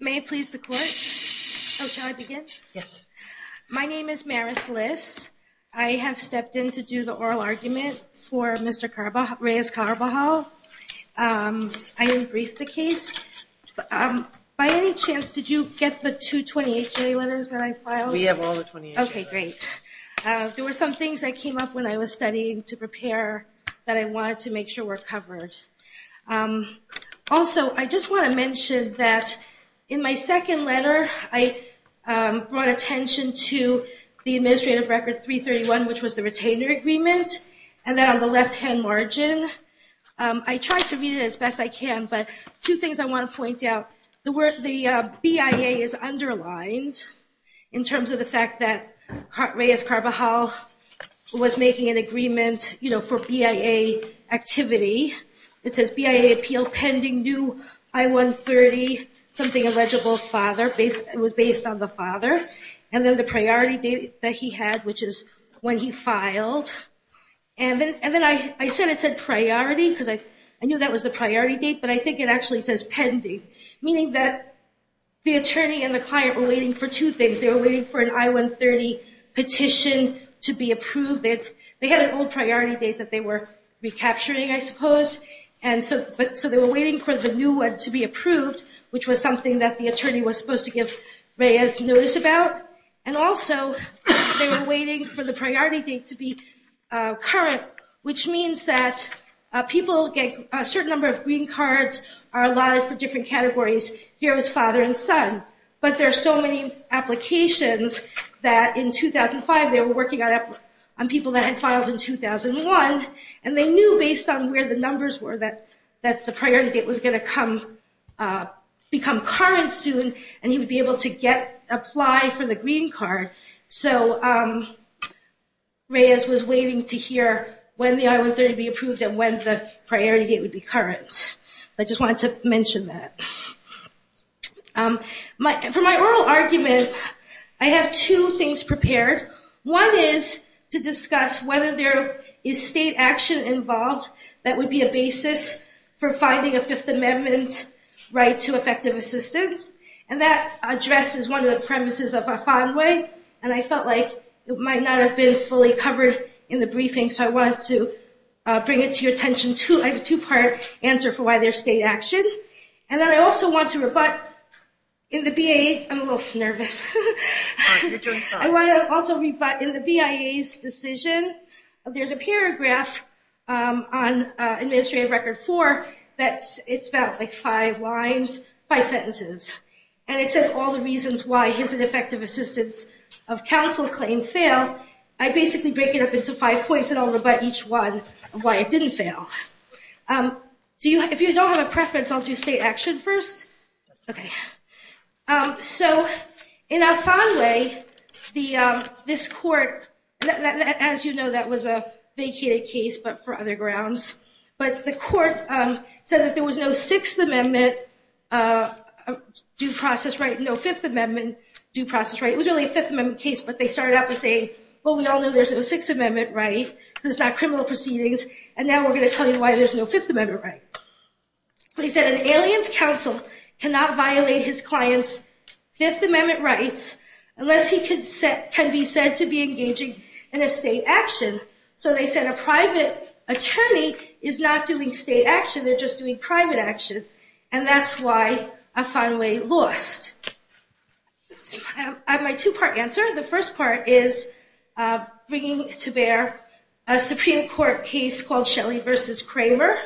May I please the court? Oh, shall I begin? Yes. My name is Maris Liss. I have stepped in to do the oral argument for Mr. Reyes Carbajal. I didn't brief the case. By any chance, did you get the two 28-J letters that I filed? We have all the 28-J letters. Okay, great. There were some things that came up when I was studying to prepare that I wanted to make sure were covered. Also, I just want to mention that in my second letter, I brought attention to the administrative record 331, which was the retainer agreement, and that on the left-hand margin. I tried to read it as best I can, but two things I want to point out. The BIA is underlined in terms of the fact that Reyes Carbajal was making an agreement for BIA activity. It says BIA appeal pending new I-130 something illegible father. It was based on the father. And then the priority date that he had, which is when he filed. And then I said it said priority because I knew that was the priority date, but I think it actually says pending, meaning that the attorney and the client were waiting for two things. They were waiting for an I-130 petition to be approved. They had an old priority date that they were recapturing, I suppose. So they were waiting for the new one to be approved, which was something that the attorney was supposed to give Reyes notice about. And also, they were waiting for the priority date to be current, which means that people get a certain number of green cards are allotted for different categories, hero's father and son. But there are so many applications that in 2005, they were working on people that had filed in 2001, and they knew based on where the numbers were that the priority date was going to become current soon and he would be able to apply for the green card. So Reyes was waiting to hear when the I-130 would be approved and when the priority date would be current. I just wanted to mention that. For my oral argument, I have two things prepared. One is to discuss whether there is state action involved that would be a basis for finding a Fifth Amendment right to effective assistance, and that addresses one of the premises of a fine way, and I felt like it might not have been fully covered in the briefing, so I wanted to bring it to your attention. I have a two-part answer for why there's state action, and then I also want to rebut in the BIA's decision. There's a paragraph on administrative record four that's about five lines, five sentences, and it says all the reasons why his ineffective assistance of counsel claim failed. I basically break it up into five points, and I'll rebut each one of why it didn't fail. If you don't have a preference, I'll do state action first. So in a fine way, this court, as you know, that was a vacated case, but for other grounds. But the court said that there was no Sixth Amendment due process right, no Fifth Amendment due process right. It was really a Fifth Amendment case, but they started out by saying, well, we all know there's no Sixth Amendment right, there's not criminal proceedings, and now we're going to tell you why there's no Fifth Amendment right. They said an alien's counsel cannot violate his client's Fifth Amendment rights unless he can be said to be engaging in a state action. So they said a private attorney is not doing state action, they're just doing private action, and that's why a fine way lost. I have my two-part answer. The first part is bringing to bear a Supreme Court case called Shelley v. Kramer,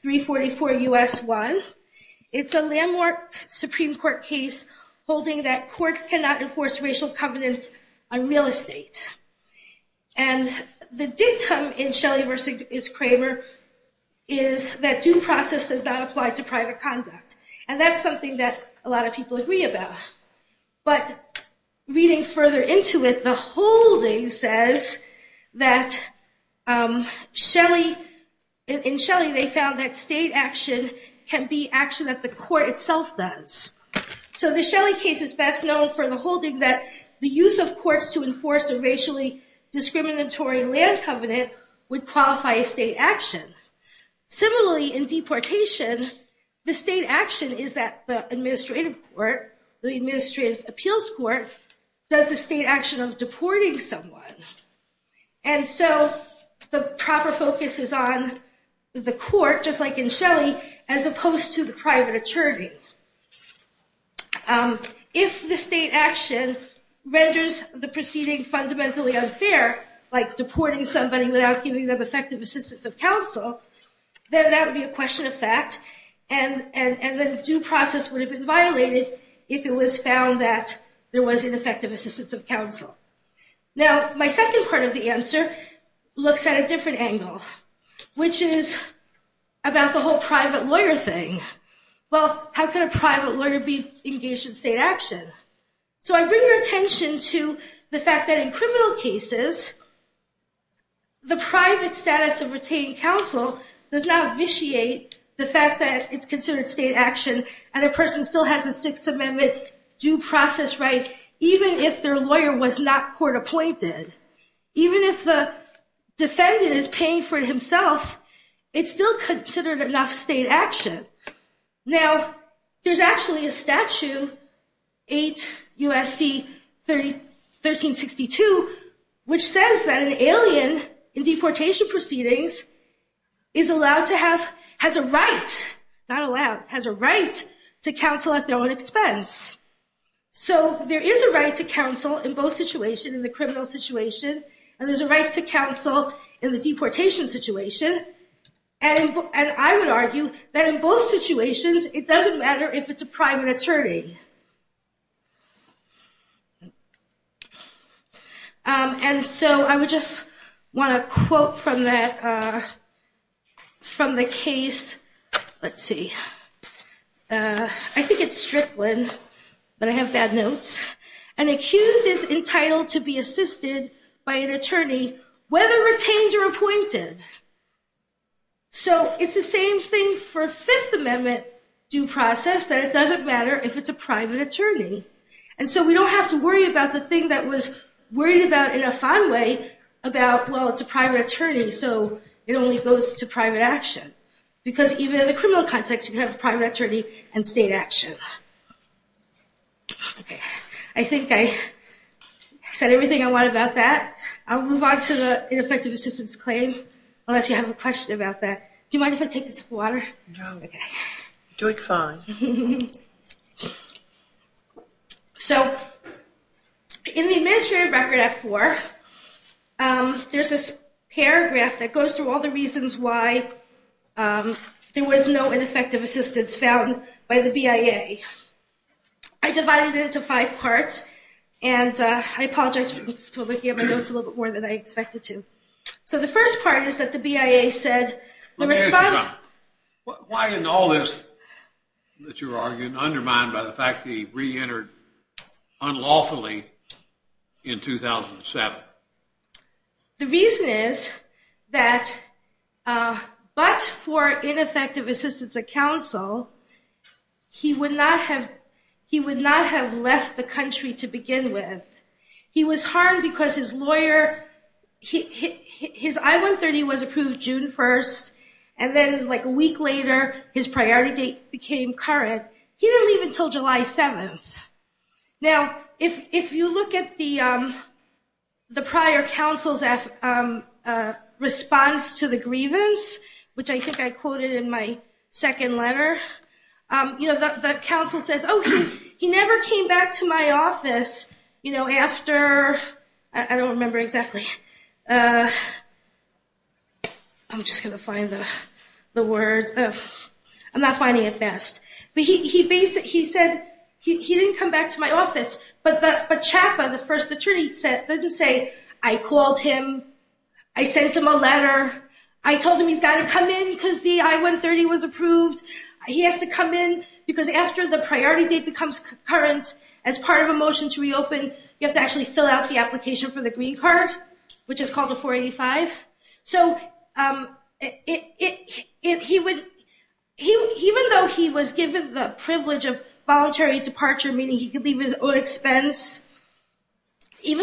344 U.S. 1. It's a landmark Supreme Court case holding that courts cannot enforce racial covenants on real estate. And the dictum in Shelley v. Kramer is that due process does not apply to private conduct, and that's something that a lot of people agree about. But reading further into it, the holding says that in Shelley they found that state action can be action that the court itself does. So the Shelley case is best known for the holding that the use of courts to enforce a racially discriminatory land covenant would qualify a state action. Similarly, in deportation, the state action is that the administrative court, the administrative appeals court, does the state action of deporting someone. And so the proper focus is on the court, just like in Shelley, as opposed to the private attorney. If the state action renders the proceeding fundamentally unfair, like deporting somebody without giving them effective assistance of counsel, then that would be a question of fact, and then due process would have been violated if it was found that there was ineffective assistance of counsel. Now, my second part of the answer looks at a different angle, which is about the whole private lawyer thing. Well, how could a private lawyer be engaged in state action? So I bring your attention to the fact that in criminal cases, the private status of retaining counsel does not vitiate the fact that it's considered state action and a person still has a Sixth Amendment due process right, even if their lawyer was not court appointed. Even if the defendant is paying for it himself, it's still considered enough state action. Now, there's actually a statute, 8 USC 1362, which says that an alien in deportation proceedings is allowed to have, has a right, not allowed, has a right to counsel at their own expense. So there is a right to counsel in both situations, in the criminal situation, and there's a right to counsel in the deportation situation. And I would argue that in both situations, it doesn't matter if it's a private attorney. And so I would just want to quote from that, from the case. Let's see. I think it's Strickland, but I have bad notes. An accused is entitled to be assisted by an attorney, whether retained or appointed. So it's the same thing for Fifth Amendment due process, that it doesn't matter if it's a private attorney. And so we don't have to worry about the thing that was worried about in a fine way, about, well, it's a private attorney, so it only goes to private action. Because even in the criminal context, you have a private attorney and state action. Okay. I think I said everything I want about that. I'll move on to the ineffective assistance claim, unless you have a question about that. Do you mind if I take a sip of water? No. Okay. You're doing fine. So in the administrative record at four, there's this paragraph that goes through all the reasons why there was no ineffective assistance found by the BIA. I divided it into five parts, and I apologize for looking at my notes a little bit more than I expected to. So the first part is that the BIA said, Let me ask you something. Why in all this that you're arguing, undermined by the fact that he reentered unlawfully in 2007? The reason is that but for ineffective assistance of counsel, he would not have left the country to begin with. He was harmed because his lawyer, his I-130 was approved June 1st, and then like a week later, his priority date became current. He didn't leave until July 7th. Now, if you look at the prior counsel's response to the grievance, which I think I quoted in my second letter, the counsel says, Oh, he never came back to my office after, I don't remember exactly. I'm just going to find the words. I'm not finding it fast. He said he didn't come back to my office, but CHAPA, the first attorney, didn't say, I called him. I sent him a letter. I told him he's got to come in because the I-130 was approved. He has to come in because after the priority date becomes current, as part of a motion to reopen, you have to actually fill out the application for the green card, which is called a 485. So even though he was given the privilege of voluntary departure, meaning he could leave at his own expense. That's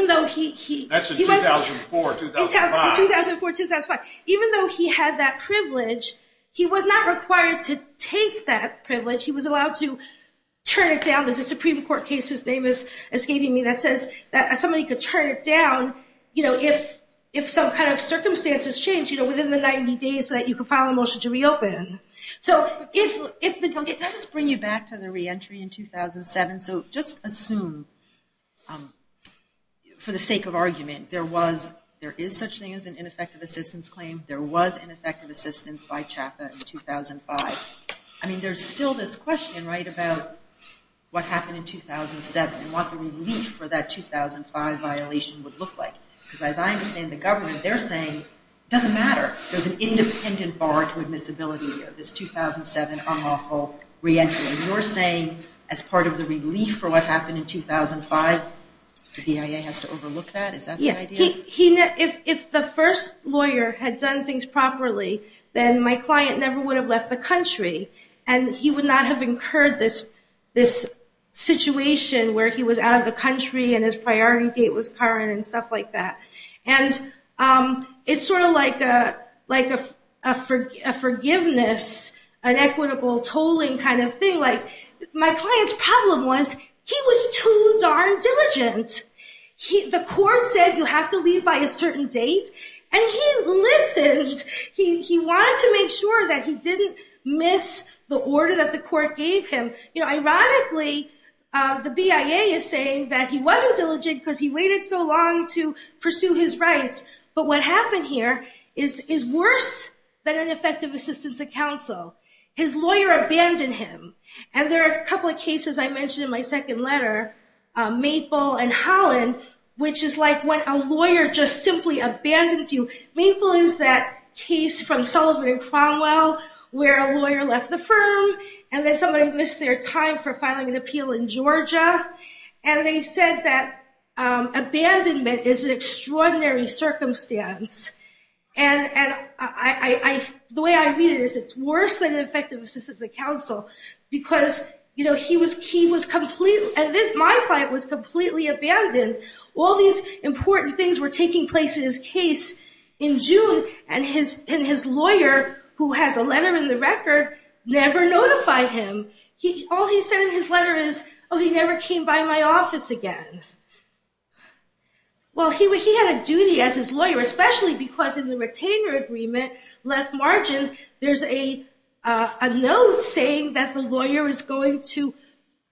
in 2004, 2005. In 2004, 2005. Even though he had that privilege, he was not required to take that privilege. He was allowed to turn it down. There's a Supreme Court case, whose name is escaping me, that says that somebody could turn it down if some kind of circumstances change within the 90 days so that you could file a motion to reopen. Can I just bring you back to the reentry in 2007? So just assume, for the sake of argument, there is such a thing as an ineffective assistance claim. There was an ineffective assistance by CHAPA in 2005. I mean, there's still this question, right, about what happened in 2007 and what the relief for that 2005 violation would look like. Because as I understand the government, they're saying it doesn't matter. There's an independent bar to admissibility of this 2007 unlawful reentry. And you're saying as part of the relief for what happened in 2005, the BIA has to overlook that? Is that the idea? If the first lawyer had done things properly, then my client never would have left the country. And he would not have incurred this situation where he was out of the country and his priority date was current and stuff like that. And it's sort of like a forgiveness, an equitable tolling kind of thing. Like my client's problem was he was too darn diligent. The court said you have to leave by a certain date. And he listened. He wanted to make sure that he didn't miss the order that the court gave him. You know, ironically, the BIA is saying that he wasn't diligent because he waited so long to pursue his rights. But what happened here is worse than ineffective assistance at counsel. His lawyer abandoned him. And there are a couple of cases I mentioned in my second letter, Maple and Holland, which is like when a lawyer just simply abandons you. Maple is that case from Sullivan and Cromwell where a lawyer left the firm and then somebody missed their time for filing an appeal in Georgia. And they said that abandonment is an extraordinary circumstance. And the way I read it is it's worse than ineffective assistance at counsel because my client was completely abandoned. All these important things were taking place in his case in June, and his lawyer, who has a letter in the record, never notified him. All he said in his letter is, oh, he never came by my office again. Well, he had a duty as his lawyer, especially because in the retainer agreement, left margin, there's a note saying that the lawyer is waiting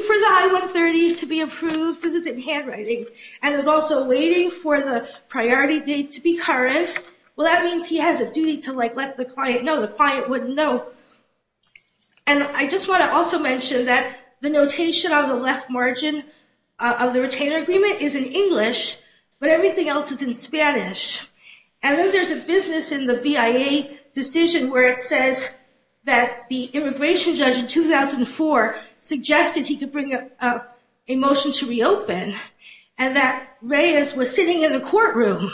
for the I-130 to be approved. This is in handwriting. And is also waiting for the priority date to be current. Well, that means he has a duty to let the client know. The client wouldn't know. And I just want to also mention that the notation on the left margin of the retainer agreement is in English, but everything else is in Spanish. And then there's a business in the BIA decision where it says that the immigration judge in 2004 suggested he could bring a motion to reopen and that Reyes was sitting in the courtroom.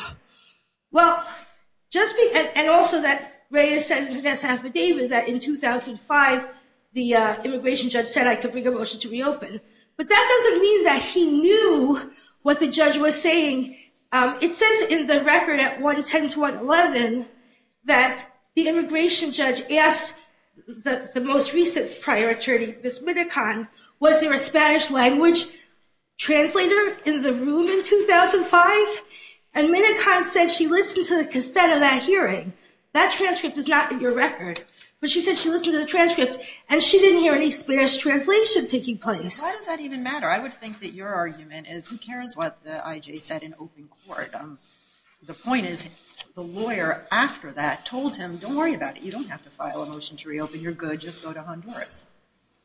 And also that Reyes says in his affidavit that in 2005 the immigration judge said I could bring a motion to reopen. But that doesn't mean that he knew what the judge was saying. It says in the record at 110 to 111 that the immigration judge asked the most recent prior attorney, Ms. Minicon, was there a Spanish language translator in the room in 2005? And Minicon said she listened to the cassette of that hearing. That transcript is not in your record. But she said she listened to the transcript and she didn't hear any Spanish translation taking place. Why does that even matter? I would think that your argument is who cares what the IJ said in open court? The point is the lawyer after that told him don't worry about it. You don't have to file a motion to reopen. You're good. Just go to Honduras.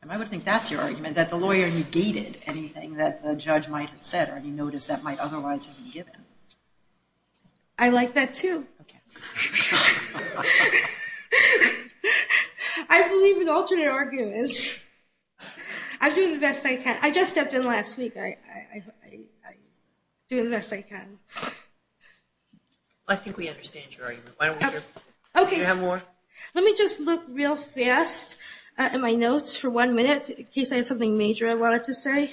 And I would think that's your argument, that the lawyer negated anything that the judge might have said or any notice that might otherwise have been given. I like that, too. I believe in alternate arguments. I'm doing the best I can. I just stepped in last week. I'm doing the best I can. I think we understand your argument. Do you have more? Let me just look real fast at my notes for one minute in case I have something major I wanted to say.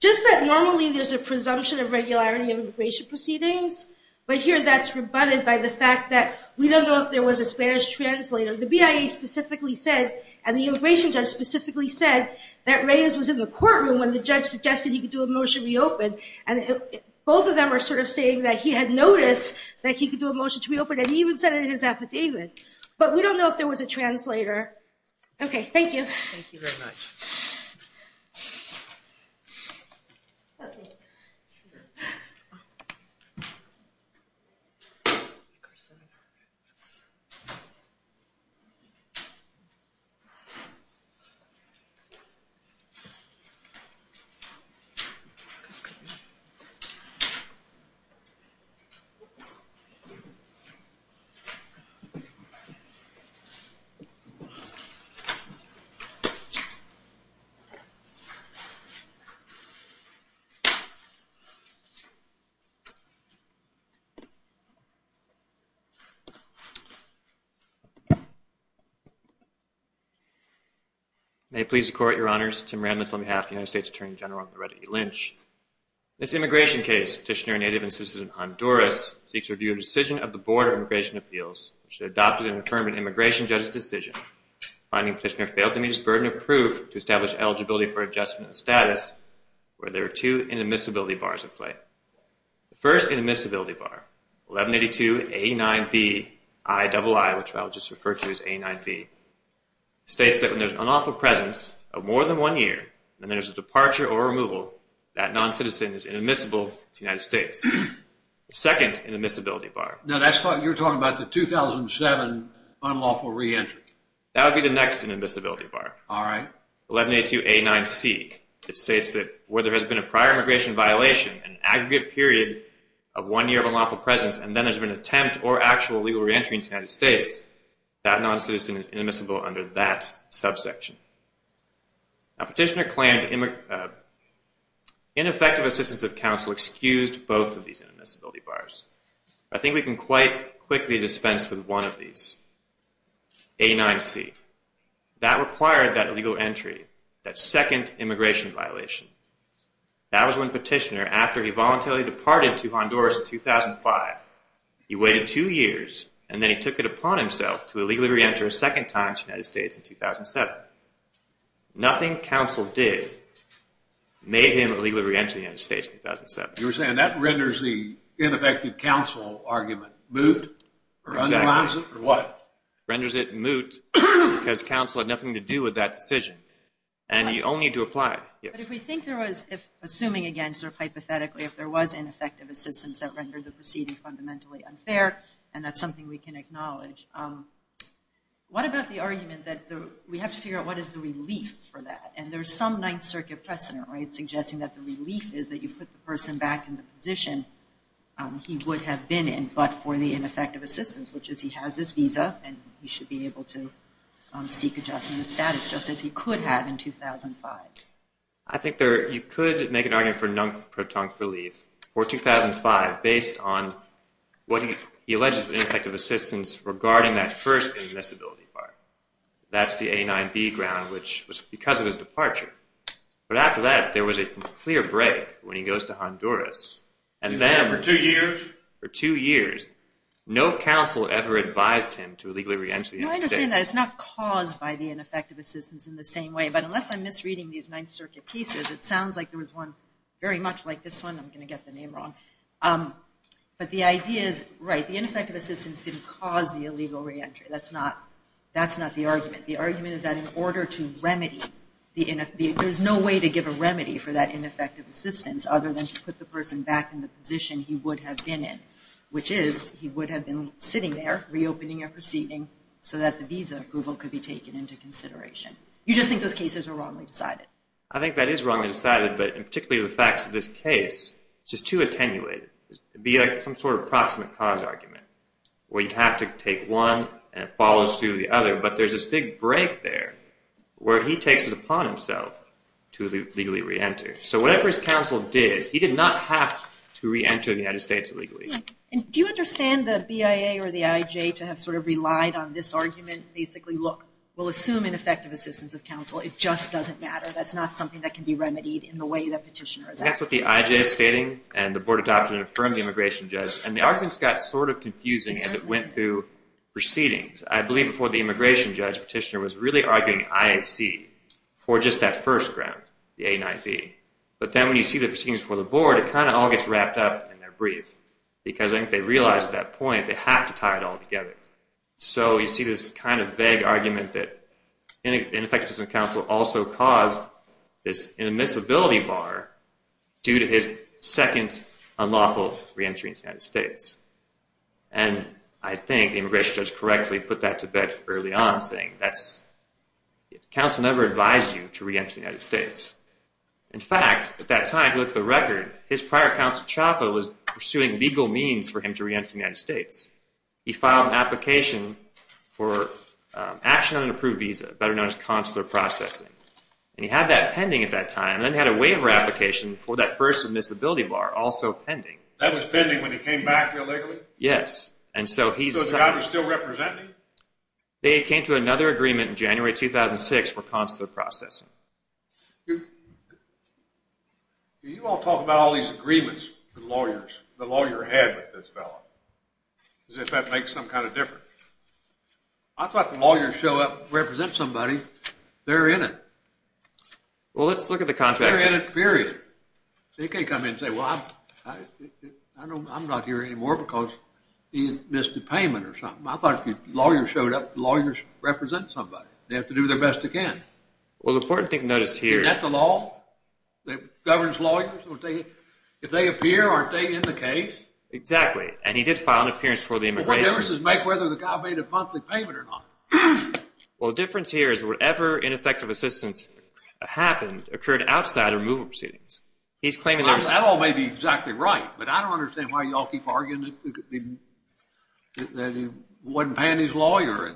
Just that normally there's a presumption of regularity in immigration proceedings, but here that's rebutted by the fact that we don't know if there was a Spanish translator. The BIA specifically said and the immigration judge specifically said that Reyes was in the courtroom when the judge suggested he could do a motion to reopen. And both of them are sort of saying that he had noticed that he could do a motion to reopen and he even said it in his affidavit. But we don't know if there was a translator. Okay. Thank you. Thank you very much. Thank you. May it please the Court, Your Honors, Tim Randence on behalf of the United States Attorney General and Loretta E. Lynch. This immigration case, Petitioner, a native and citizen of Honduras, seeks review of the decision of the Board of Immigration Appeals which had adopted and affirmed an immigration judge's decision. Finding Petitioner failed to meet his burden of proof to establish eligibility for adjustment of status where there are two inadmissibility bars at play. The first inadmissibility bar, 1182A9BII, which I'll just refer to as A9B, states that when there's an unlawful presence of more than one year and there's a departure or removal, that noncitizen is inadmissible to the United States. The second inadmissibility bar. No, that's what you're talking about, the 2007 unlawful reentry. That would be the next inadmissibility bar. All right. 1182A9C. It states that where there has been a prior immigration violation, an aggregate period of one year of unlawful presence, and then there's been an attempt or actual legal reentry in the United States, that noncitizen is inadmissible under that subsection. Now, Petitioner claimed ineffective assistance of counsel excused both of these inadmissibility bars. I think we can quite quickly dispense with one of these, A9C. That required that legal entry, that second immigration violation. That was when Petitioner, after he voluntarily departed to Honduras in 2005, he waited two years and then he took it upon himself to illegally reenter a second time to the United States in 2007. Nothing counsel did made him illegally reenter the United States in 2007. You're saying that renders the ineffective counsel argument moot or underlines it or what? It renders it moot because counsel had nothing to do with that decision and only to apply it. But if we think there was, assuming again sort of hypothetically, if there was ineffective assistance that rendered the proceeding fundamentally unfair, and that's something we can acknowledge, what about the argument that we have to figure out what is the relief for that? And there's some Ninth Circuit precedent, right, that you put the person back in the position he would have been in, but for the ineffective assistance, which is he has this visa and he should be able to seek adjustment of status, just as he could have in 2005. I think you could make an argument for non-proton relief for 2005 based on what he alleges was ineffective assistance regarding that first inadmissibility bar. That's the A9B ground, which was because of his departure. But after that, there was a clear break when he goes to Honduras. He was there for two years? For two years. No counsel ever advised him to illegally re-enter the United States. I understand that. It's not caused by the ineffective assistance in the same way, but unless I'm misreading these Ninth Circuit pieces, it sounds like there was one very much like this one. I'm going to get the name wrong. But the idea is, right, the ineffective assistance didn't cause the illegal re-entry. That's not the argument. The argument is that in order to remedy, there's no way to give a remedy for that ineffective assistance other than to put the person back in the position he would have been in, which is he would have been sitting there reopening a proceeding so that the visa approval could be taken into consideration. You just think those cases are wrongly decided. I think that is wrongly decided, but in particular the facts of this case, it's just too attenuated. It would be like some sort of proximate cause argument where you have to take one and it follows through the other, but there's this big break there where he takes it upon himself to legally re-enter. So whatever his counsel did, he did not have to re-enter the United States illegally. Do you understand the BIA or the IJ to have sort of relied on this argument, basically, look, we'll assume ineffective assistance of counsel. It just doesn't matter. That's not something that can be remedied in the way the petitioner is asking. That's what the IJ is stating, and the board adopted it and affirmed the immigration judge, and the arguments got sort of confusing as it went through proceedings. I believe before the immigration judge, petitioner was really arguing IAC for just that first round, the 89B. But then when you see the proceedings before the board, it kind of all gets wrapped up in their brief because I think they realized at that point they have to tie it all together. So you see this kind of vague argument that ineffective assistance of counsel also caused this inadmissibility bar due to his second unlawful re-entry in the United States. And I think the immigration judge correctly put that to bed early on, saying counsel never advised you to re-enter the United States. In fact, at that time, look at the record, his prior counsel, Chapa, was pursuing legal means for him to re-enter the United States. He filed an application for action on an approved visa, better known as consular processing. And he had that pending at that time, and then he had a waiver application for that first admissibility bar, also pending. That was pending when he came back illegally? Yes. So the guy was still representing? They came to another agreement in January 2006 for consular processing. You all talk about all these agreements the lawyer had with this fellow, as if that makes them kind of different. I thought the lawyers show up, represent somebody, they're in it. Well, let's look at the contract. They're in it, period. They can't come in and say, well, I'm not here anymore because he missed a payment or something. I thought if the lawyers showed up, the lawyers represent somebody. They have to do their best they can. Well, the important thing to notice here is... Isn't that the law that governs lawyers? If they appear, aren't they in the case? Exactly, and he did file an appearance for the immigration... Well, what difference does it make whether the guy made a monthly payment or not? Well, the difference here is whatever ineffective assistance happened occurred outside of removal proceedings. That all may be exactly right, but I don't understand why you all keep arguing that he wasn't paying his lawyer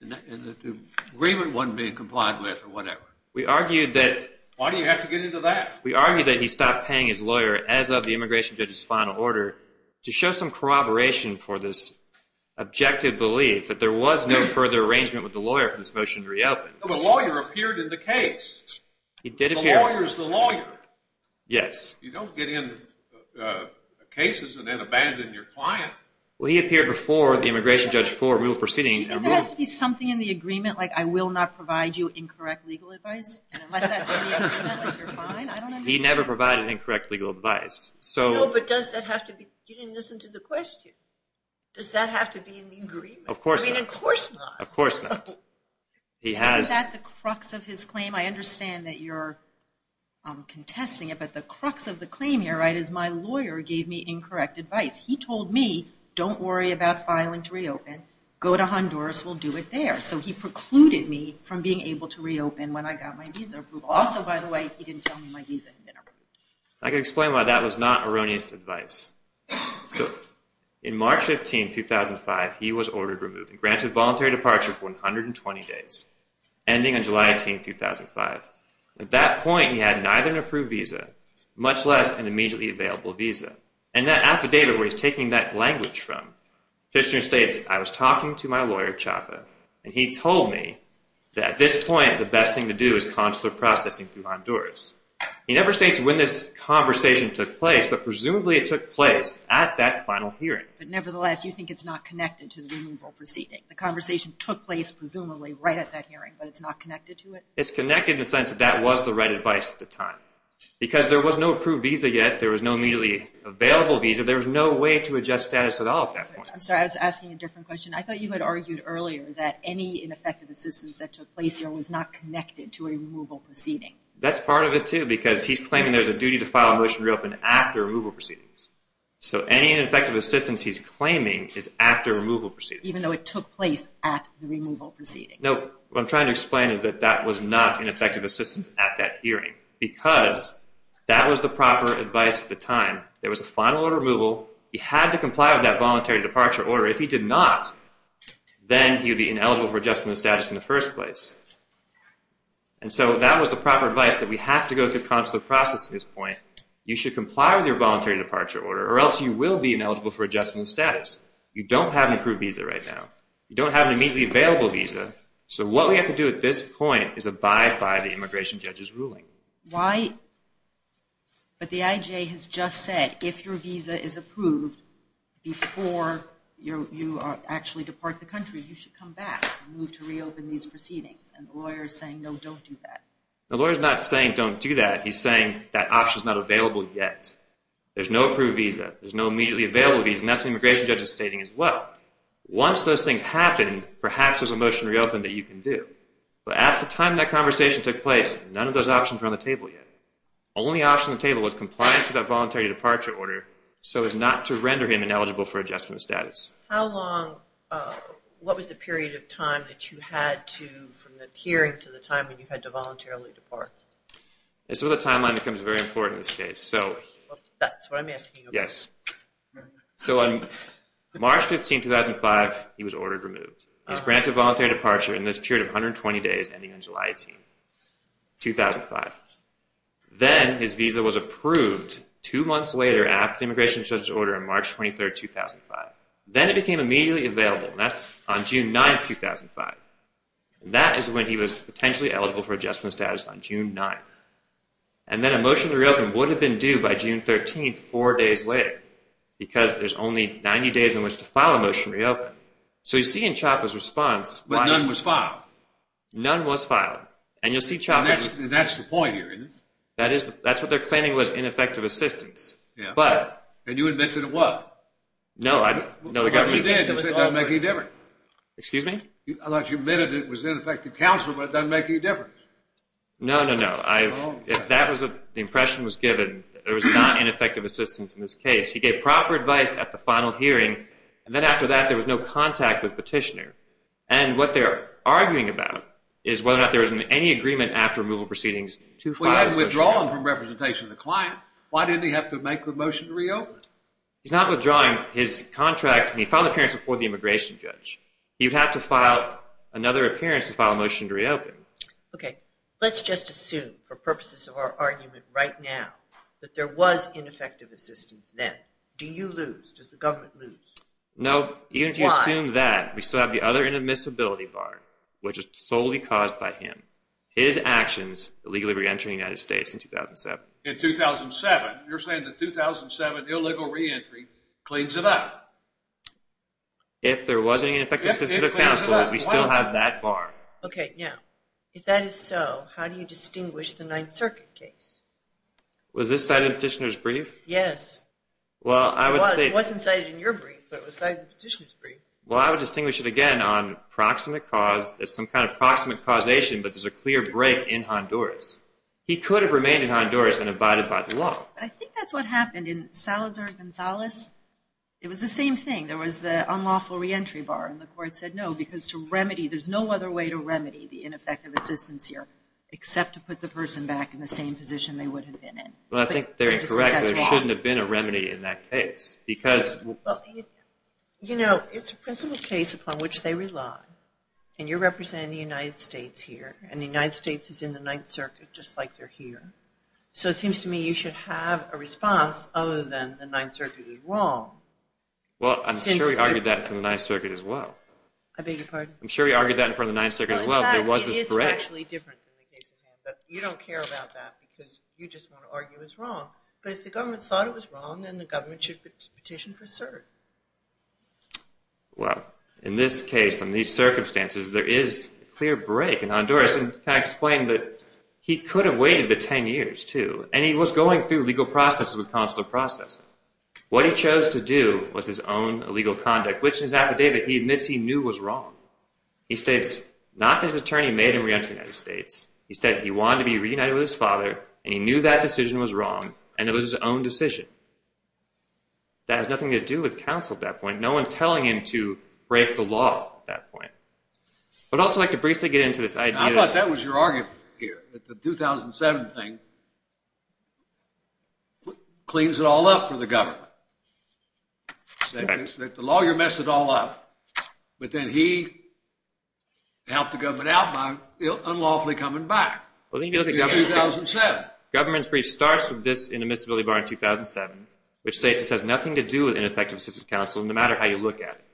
and that the agreement wasn't being complied with or whatever. Why do you have to get into that? We argue that he stopped paying his lawyer as of the immigration judge's final order to show some corroboration for this objective belief that there was no further arrangement with the lawyer for this motion to reopen. The lawyer appeared in the case. He did appear. The lawyer is the lawyer. Yes. You don't get in cases and then abandon your client. Well, he appeared before the immigration judge for removal proceedings. Doesn't there have to be something in the agreement, like I will not provide you incorrect legal advice? Unless that's in the agreement, like you're fine? He never provided incorrect legal advice. No, but does that have to be... you didn't listen to the question. Does that have to be in the agreement? Of course not. I mean, of course not. Of course not. Isn't that the crux of his claim? I understand that you're contesting it, but the crux of the claim here is my lawyer gave me incorrect advice. He told me don't worry about filing to reopen. Go to Honduras. We'll do it there. So he precluded me from being able to reopen when I got my visa approved. Also, by the way, he didn't tell me my visa had been approved. I can explain why that was not erroneous advice. So in March 15, 2005, he was ordered removal. He was granted voluntary departure for 120 days, ending on July 18, 2005. At that point, he had neither an approved visa, much less an immediately available visa. And that affidavit where he's taking that language from, the petitioner states, I was talking to my lawyer, Chapa, and he told me that at this point the best thing to do is consular processing through Honduras. He never states when this conversation took place, but presumably it took place at that final hearing. But nevertheless, you think it's not connected to the removal proceeding. The conversation took place presumably right at that hearing, but it's not connected to it? It's connected in the sense that that was the right advice at the time. Because there was no approved visa yet, there was no immediately available visa, there was no way to adjust status at all at that point. I'm sorry, I was asking a different question. I thought you had argued earlier that any ineffective assistance that took place here was not connected to a removal proceeding. That's part of it, too, because he's claiming there's a duty to file a motion to reopen after removal proceedings. So any ineffective assistance he's claiming is after removal proceedings. Even though it took place at the removal proceeding. No, what I'm trying to explain is that that was not ineffective assistance at that hearing. Because that was the proper advice at the time. There was a final order of removal. He had to comply with that voluntary departure order. If he did not, then he would be ineligible for adjustment of status in the first place. And so that was the proper advice, that we have to go through consular processing at this point. You should comply with your voluntary departure order, or else you will be ineligible for adjustment of status. You don't have an approved visa right now. You don't have an immediately available visa. So what we have to do at this point is abide by the immigration judge's ruling. Why? But the IJ has just said, if your visa is approved before you actually depart the country, you should come back and move to reopen these proceedings. And the lawyer is saying, no, don't do that. The lawyer is not saying, don't do that. He's saying that option is not available yet. There's no approved visa. There's no immediately available visa. And that's what the immigration judge is stating as well. Once those things happen, perhaps there's a motion to reopen that you can do. But at the time that conversation took place, none of those options were on the table yet. The only option on the table was compliance with that voluntary departure order, so as not to render him ineligible for adjustment of status. How long, what was the period of time that you had to, from the hearing to the time when you had to voluntarily depart? This is where the timeline becomes very important in this case. That's what I'm asking you about. Yes. So on March 15, 2005, he was ordered removed. He was granted voluntary departure in this period of 120 days, ending on July 18, 2005. Then his visa was approved two months later, after the immigration judge's order, on March 23, 2005. Then it became immediately available. That's on June 9, 2005. That is when he was potentially eligible for adjustment of status, on June 9. And then a motion to reopen would have been due by June 13, four days later, because there's only 90 days in which to file a motion to reopen. So you see in CHOPPA's response... But none was filed. None was filed. And you'll see CHOPPA... And that's the point here, isn't it? That's what they're claiming was ineffective assistance. And you admitted it was. No, I didn't. But you did. You said it doesn't make any difference. Excuse me? I thought you admitted it was ineffective counsel, but it doesn't make any difference. No, no, no. The impression was given that there was not ineffective assistance in this case. He gave proper advice at the final hearing, and then after that there was no contact with Petitioner. And what they're arguing about is whether or not there was any agreement after removal proceedings to file this petition. Well, he had withdrawn from representation of the client. Why didn't he have to make the motion to reopen? He's not withdrawing his contract. He filed an appearance before the immigration judge. He would have to file another appearance to file a motion to reopen. Okay. Let's just assume for purposes of our argument right now that there was ineffective assistance then. Do you lose? Does the government lose? No. Even if you assume that, we still have the other inadmissibility bar, which is solely caused by him, his actions illegally reentering the United States in 2007. In 2007? You're saying the 2007 illegal reentry cleans it up. If there was any ineffective assistance of counsel, we still have that bar. Okay. Now, if that is so, how do you distinguish the Ninth Circuit case? Was this cited in Petitioner's brief? Yes. It wasn't cited in your brief, but it was cited in Petitioner's brief. Well, I would distinguish it again on some kind of proximate causation, but there's a clear break in Honduras. He could have remained in Honduras and abided by the law. I think that's what happened in Salazar Gonzales. It was the same thing. There was the unlawful reentry bar, and the court said no, because there's no other way to remedy the ineffective assistance here except to put the person back in the same position they would have been in. Well, I think they're incorrect. There shouldn't have been a remedy in that case. You know, it's a principle case upon which they rely, and you're representing the United States here, and the United States is in the Ninth Circuit just like they're here. So it seems to me you should have a response other than the Ninth Circuit is wrong. Well, I'm sure we argued that in front of the Ninth Circuit as well. I beg your pardon? I'm sure we argued that in front of the Ninth Circuit as well. In fact, it is actually different than the case at hand, but you don't care about that because you just want to argue it's wrong. But if the government thought it was wrong, then the government should petition for cert. Well, in this case, in these circumstances, there is a clear break in Honduras. And can I explain that he could have waited the 10 years too, and he was going through legal processes with consular processing. What he chose to do was his own illegal conduct, which in his affidavit he admits he knew was wrong. He states not that his attorney made him re-enter the United States. He said he wanted to be reunited with his father, and he knew that decision was wrong, and it was his own decision. That has nothing to do with counsel at that point, no one telling him to break the law at that point. But I'd also like to briefly get into this idea... I thought that was your argument here, that the 2007 thing cleans it all up for the government. That the lawyer messed it all up, but then he helped the government out by unlawfully coming back in 2007. Government's brief starts with this in admissibility bar in 2007, which states this has nothing to do with ineffective assistance counsel, no matter how you look at it.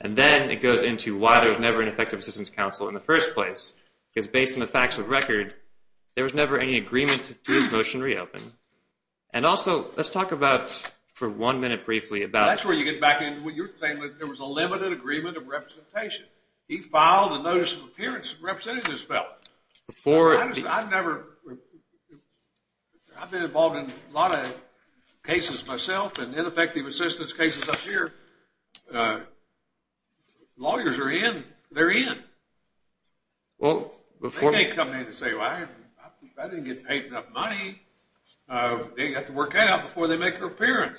And then it goes into why there was never an effective assistance counsel in the first place, because based on the facts of the record, there was never any agreement to this motion to reopen. And also, let's talk about, for one minute briefly, about... That's where you get back into what you're saying, that there was a limited agreement of representation. He filed a notice of appearance representing this fellow. I've never... I've been involved in a lot of cases myself, and ineffective assistance cases up here. Lawyers are in. They're in. They can't come in and say, well, I didn't get paid enough money. They have to work that out before they make their appearance.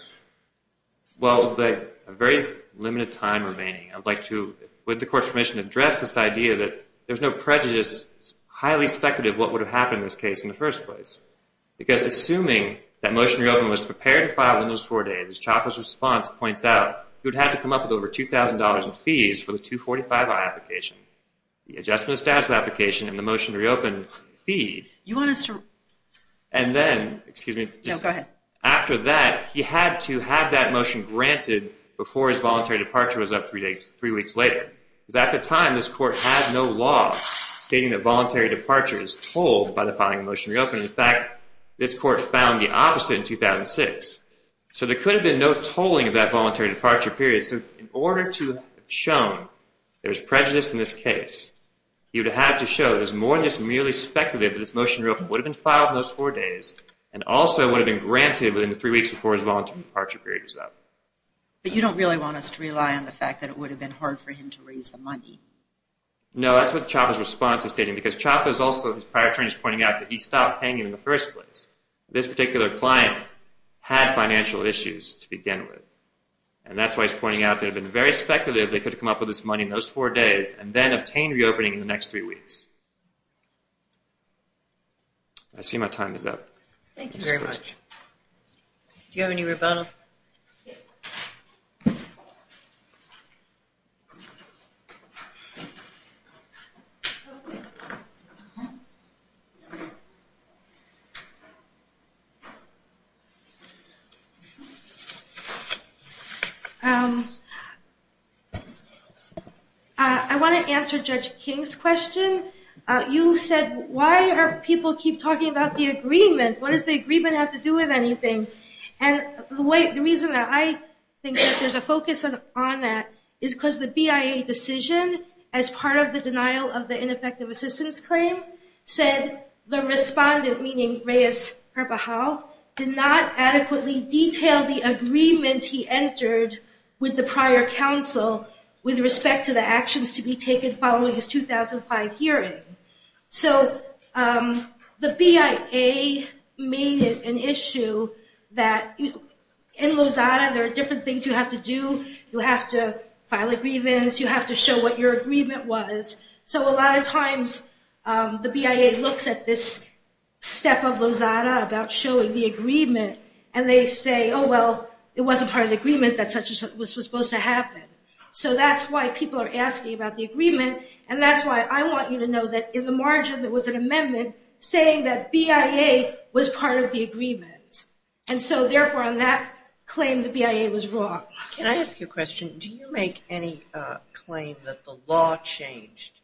Well, with a very limited time remaining, I'd like to, with the Court's permission, address this idea that there's no prejudice. It's highly speculative what would have happened in this case in the first place. Because assuming that Motion to Reopen was prepared to file within those four days, as Chaffer's response points out, he would have had to come up with over $2,000 in fees for the 245i application, the Adjustment of Status application, and the Motion to Reopen fee. You want us to... And then... No, go ahead. After that, he had to have that motion granted before his voluntary departure was up three weeks later. Because at the time, this Court had no law stating that voluntary departure is told by the filing of Motion to Reopen. In fact, this Court found the opposite in 2006. So there could have been no tolling of that voluntary departure period. So in order to have shown there's prejudice in this case, you'd have to show there's more than just merely speculative that this Motion to Reopen would have been filed in those four days and also would have been granted within the three weeks before his voluntary departure period was up. But you don't really want us to rely on the fact that it would have been hard for him to raise the money. No, that's what Chapa's response is stating. Because Chapa is also, his prior attorney is pointing out, that he stopped paying it in the first place. This particular client had financial issues to begin with. And that's why he's pointing out that it would have been very speculative if they could have come up with this money in those four days and then obtained reopening in the next three weeks. I see my time is up. Thank you very much. Do you have any rebuttal? Yes. I want to answer Judge King's question. You said, why do people keep talking about the agreement? What does the agreement have to do with anything? The reason that I think that there's a focus on that is because the BIA decision, as part of the denial of the ineffective assistance claim, said the respondent, meaning Reyes Carpajal, did not adequately detail the agreement he entered with the prior counsel with respect to the actions to be taken following his 2005 hearing. So the BIA made it an issue that in Lozada, there are different things you have to do. You have to file agreements. You have to show what your agreement was. So a lot of times the BIA looks at this step of Lozada about showing the agreement, and they say, oh, well, it wasn't part of the agreement that was supposed to happen. So that's why people are asking about the agreement, and that's why I want you to know that in the margin there was an amendment saying that BIA was part of the agreement. And so, therefore, on that claim, the BIA was wrong. Can I ask you a question? Do you make any claim that the law changed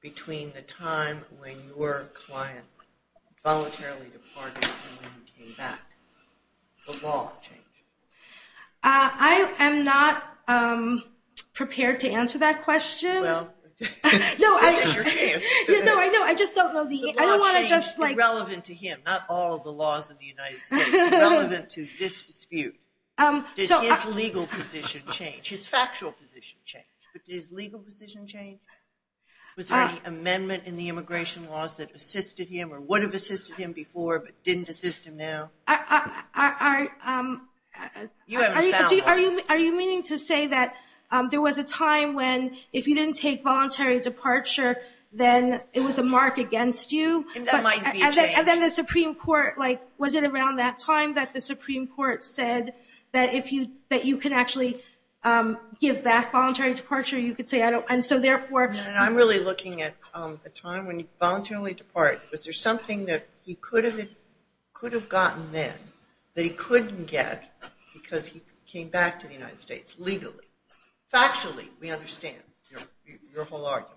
between the time when your client voluntarily departed and when he came back? The law changed. I am not prepared to answer that question. Well, this is your chance. No, I know. I just don't know the answer. The law changed. It's relevant to him, not all of the laws of the United States. It's relevant to this dispute. Does his legal position change? His factual position changed. But does legal position change? Was there any amendment in the immigration laws that assisted him or would have assisted him before but didn't assist him now? Are you meaning to say that there was a time when, if you didn't take voluntary departure, then it was a mark against you? And that might be a change. And then the Supreme Court, was it around that time that the Supreme Court said that you can actually give back voluntary departure? I'm really looking at the time when he voluntarily departed. Was there something that he could have gotten then that he couldn't get because he came back to the United States legally? Factually, we understand your whole argument.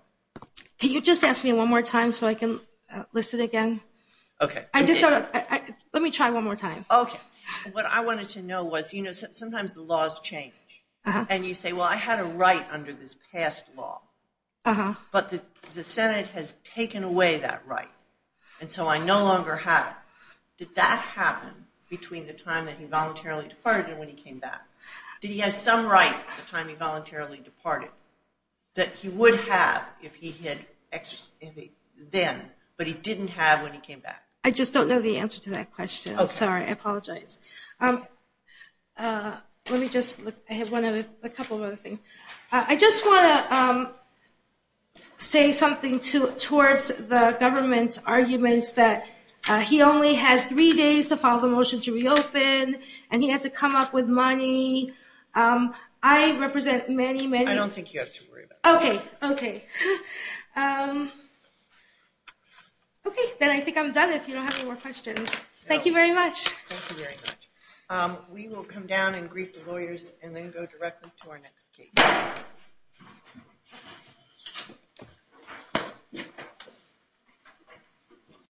Can you just ask me one more time so I can list it again? Okay. Let me try one more time. Okay. What I wanted to know was, you know, sometimes the laws change. And you say, well, I had a right under this past law. But the Senate has taken away that right. And so I no longer have it. Did that happen between the time that he voluntarily departed and when he came back? Did he have some right at the time he voluntarily departed that he would have if he had then, but he didn't have when he came back? I just don't know the answer to that question. I'm sorry. I apologize. Let me just look. I have a couple of other things. I just want to say something towards the government's arguments that he only had three days to file the motion to reopen, and he had to come up with money. I represent many, many – I don't think you have to worry about that. Okay, okay. Okay, then I think I'm done if you don't have any more questions. Thank you very much. Thank you very much. We will come down and greet the lawyers and then go directly to our next case.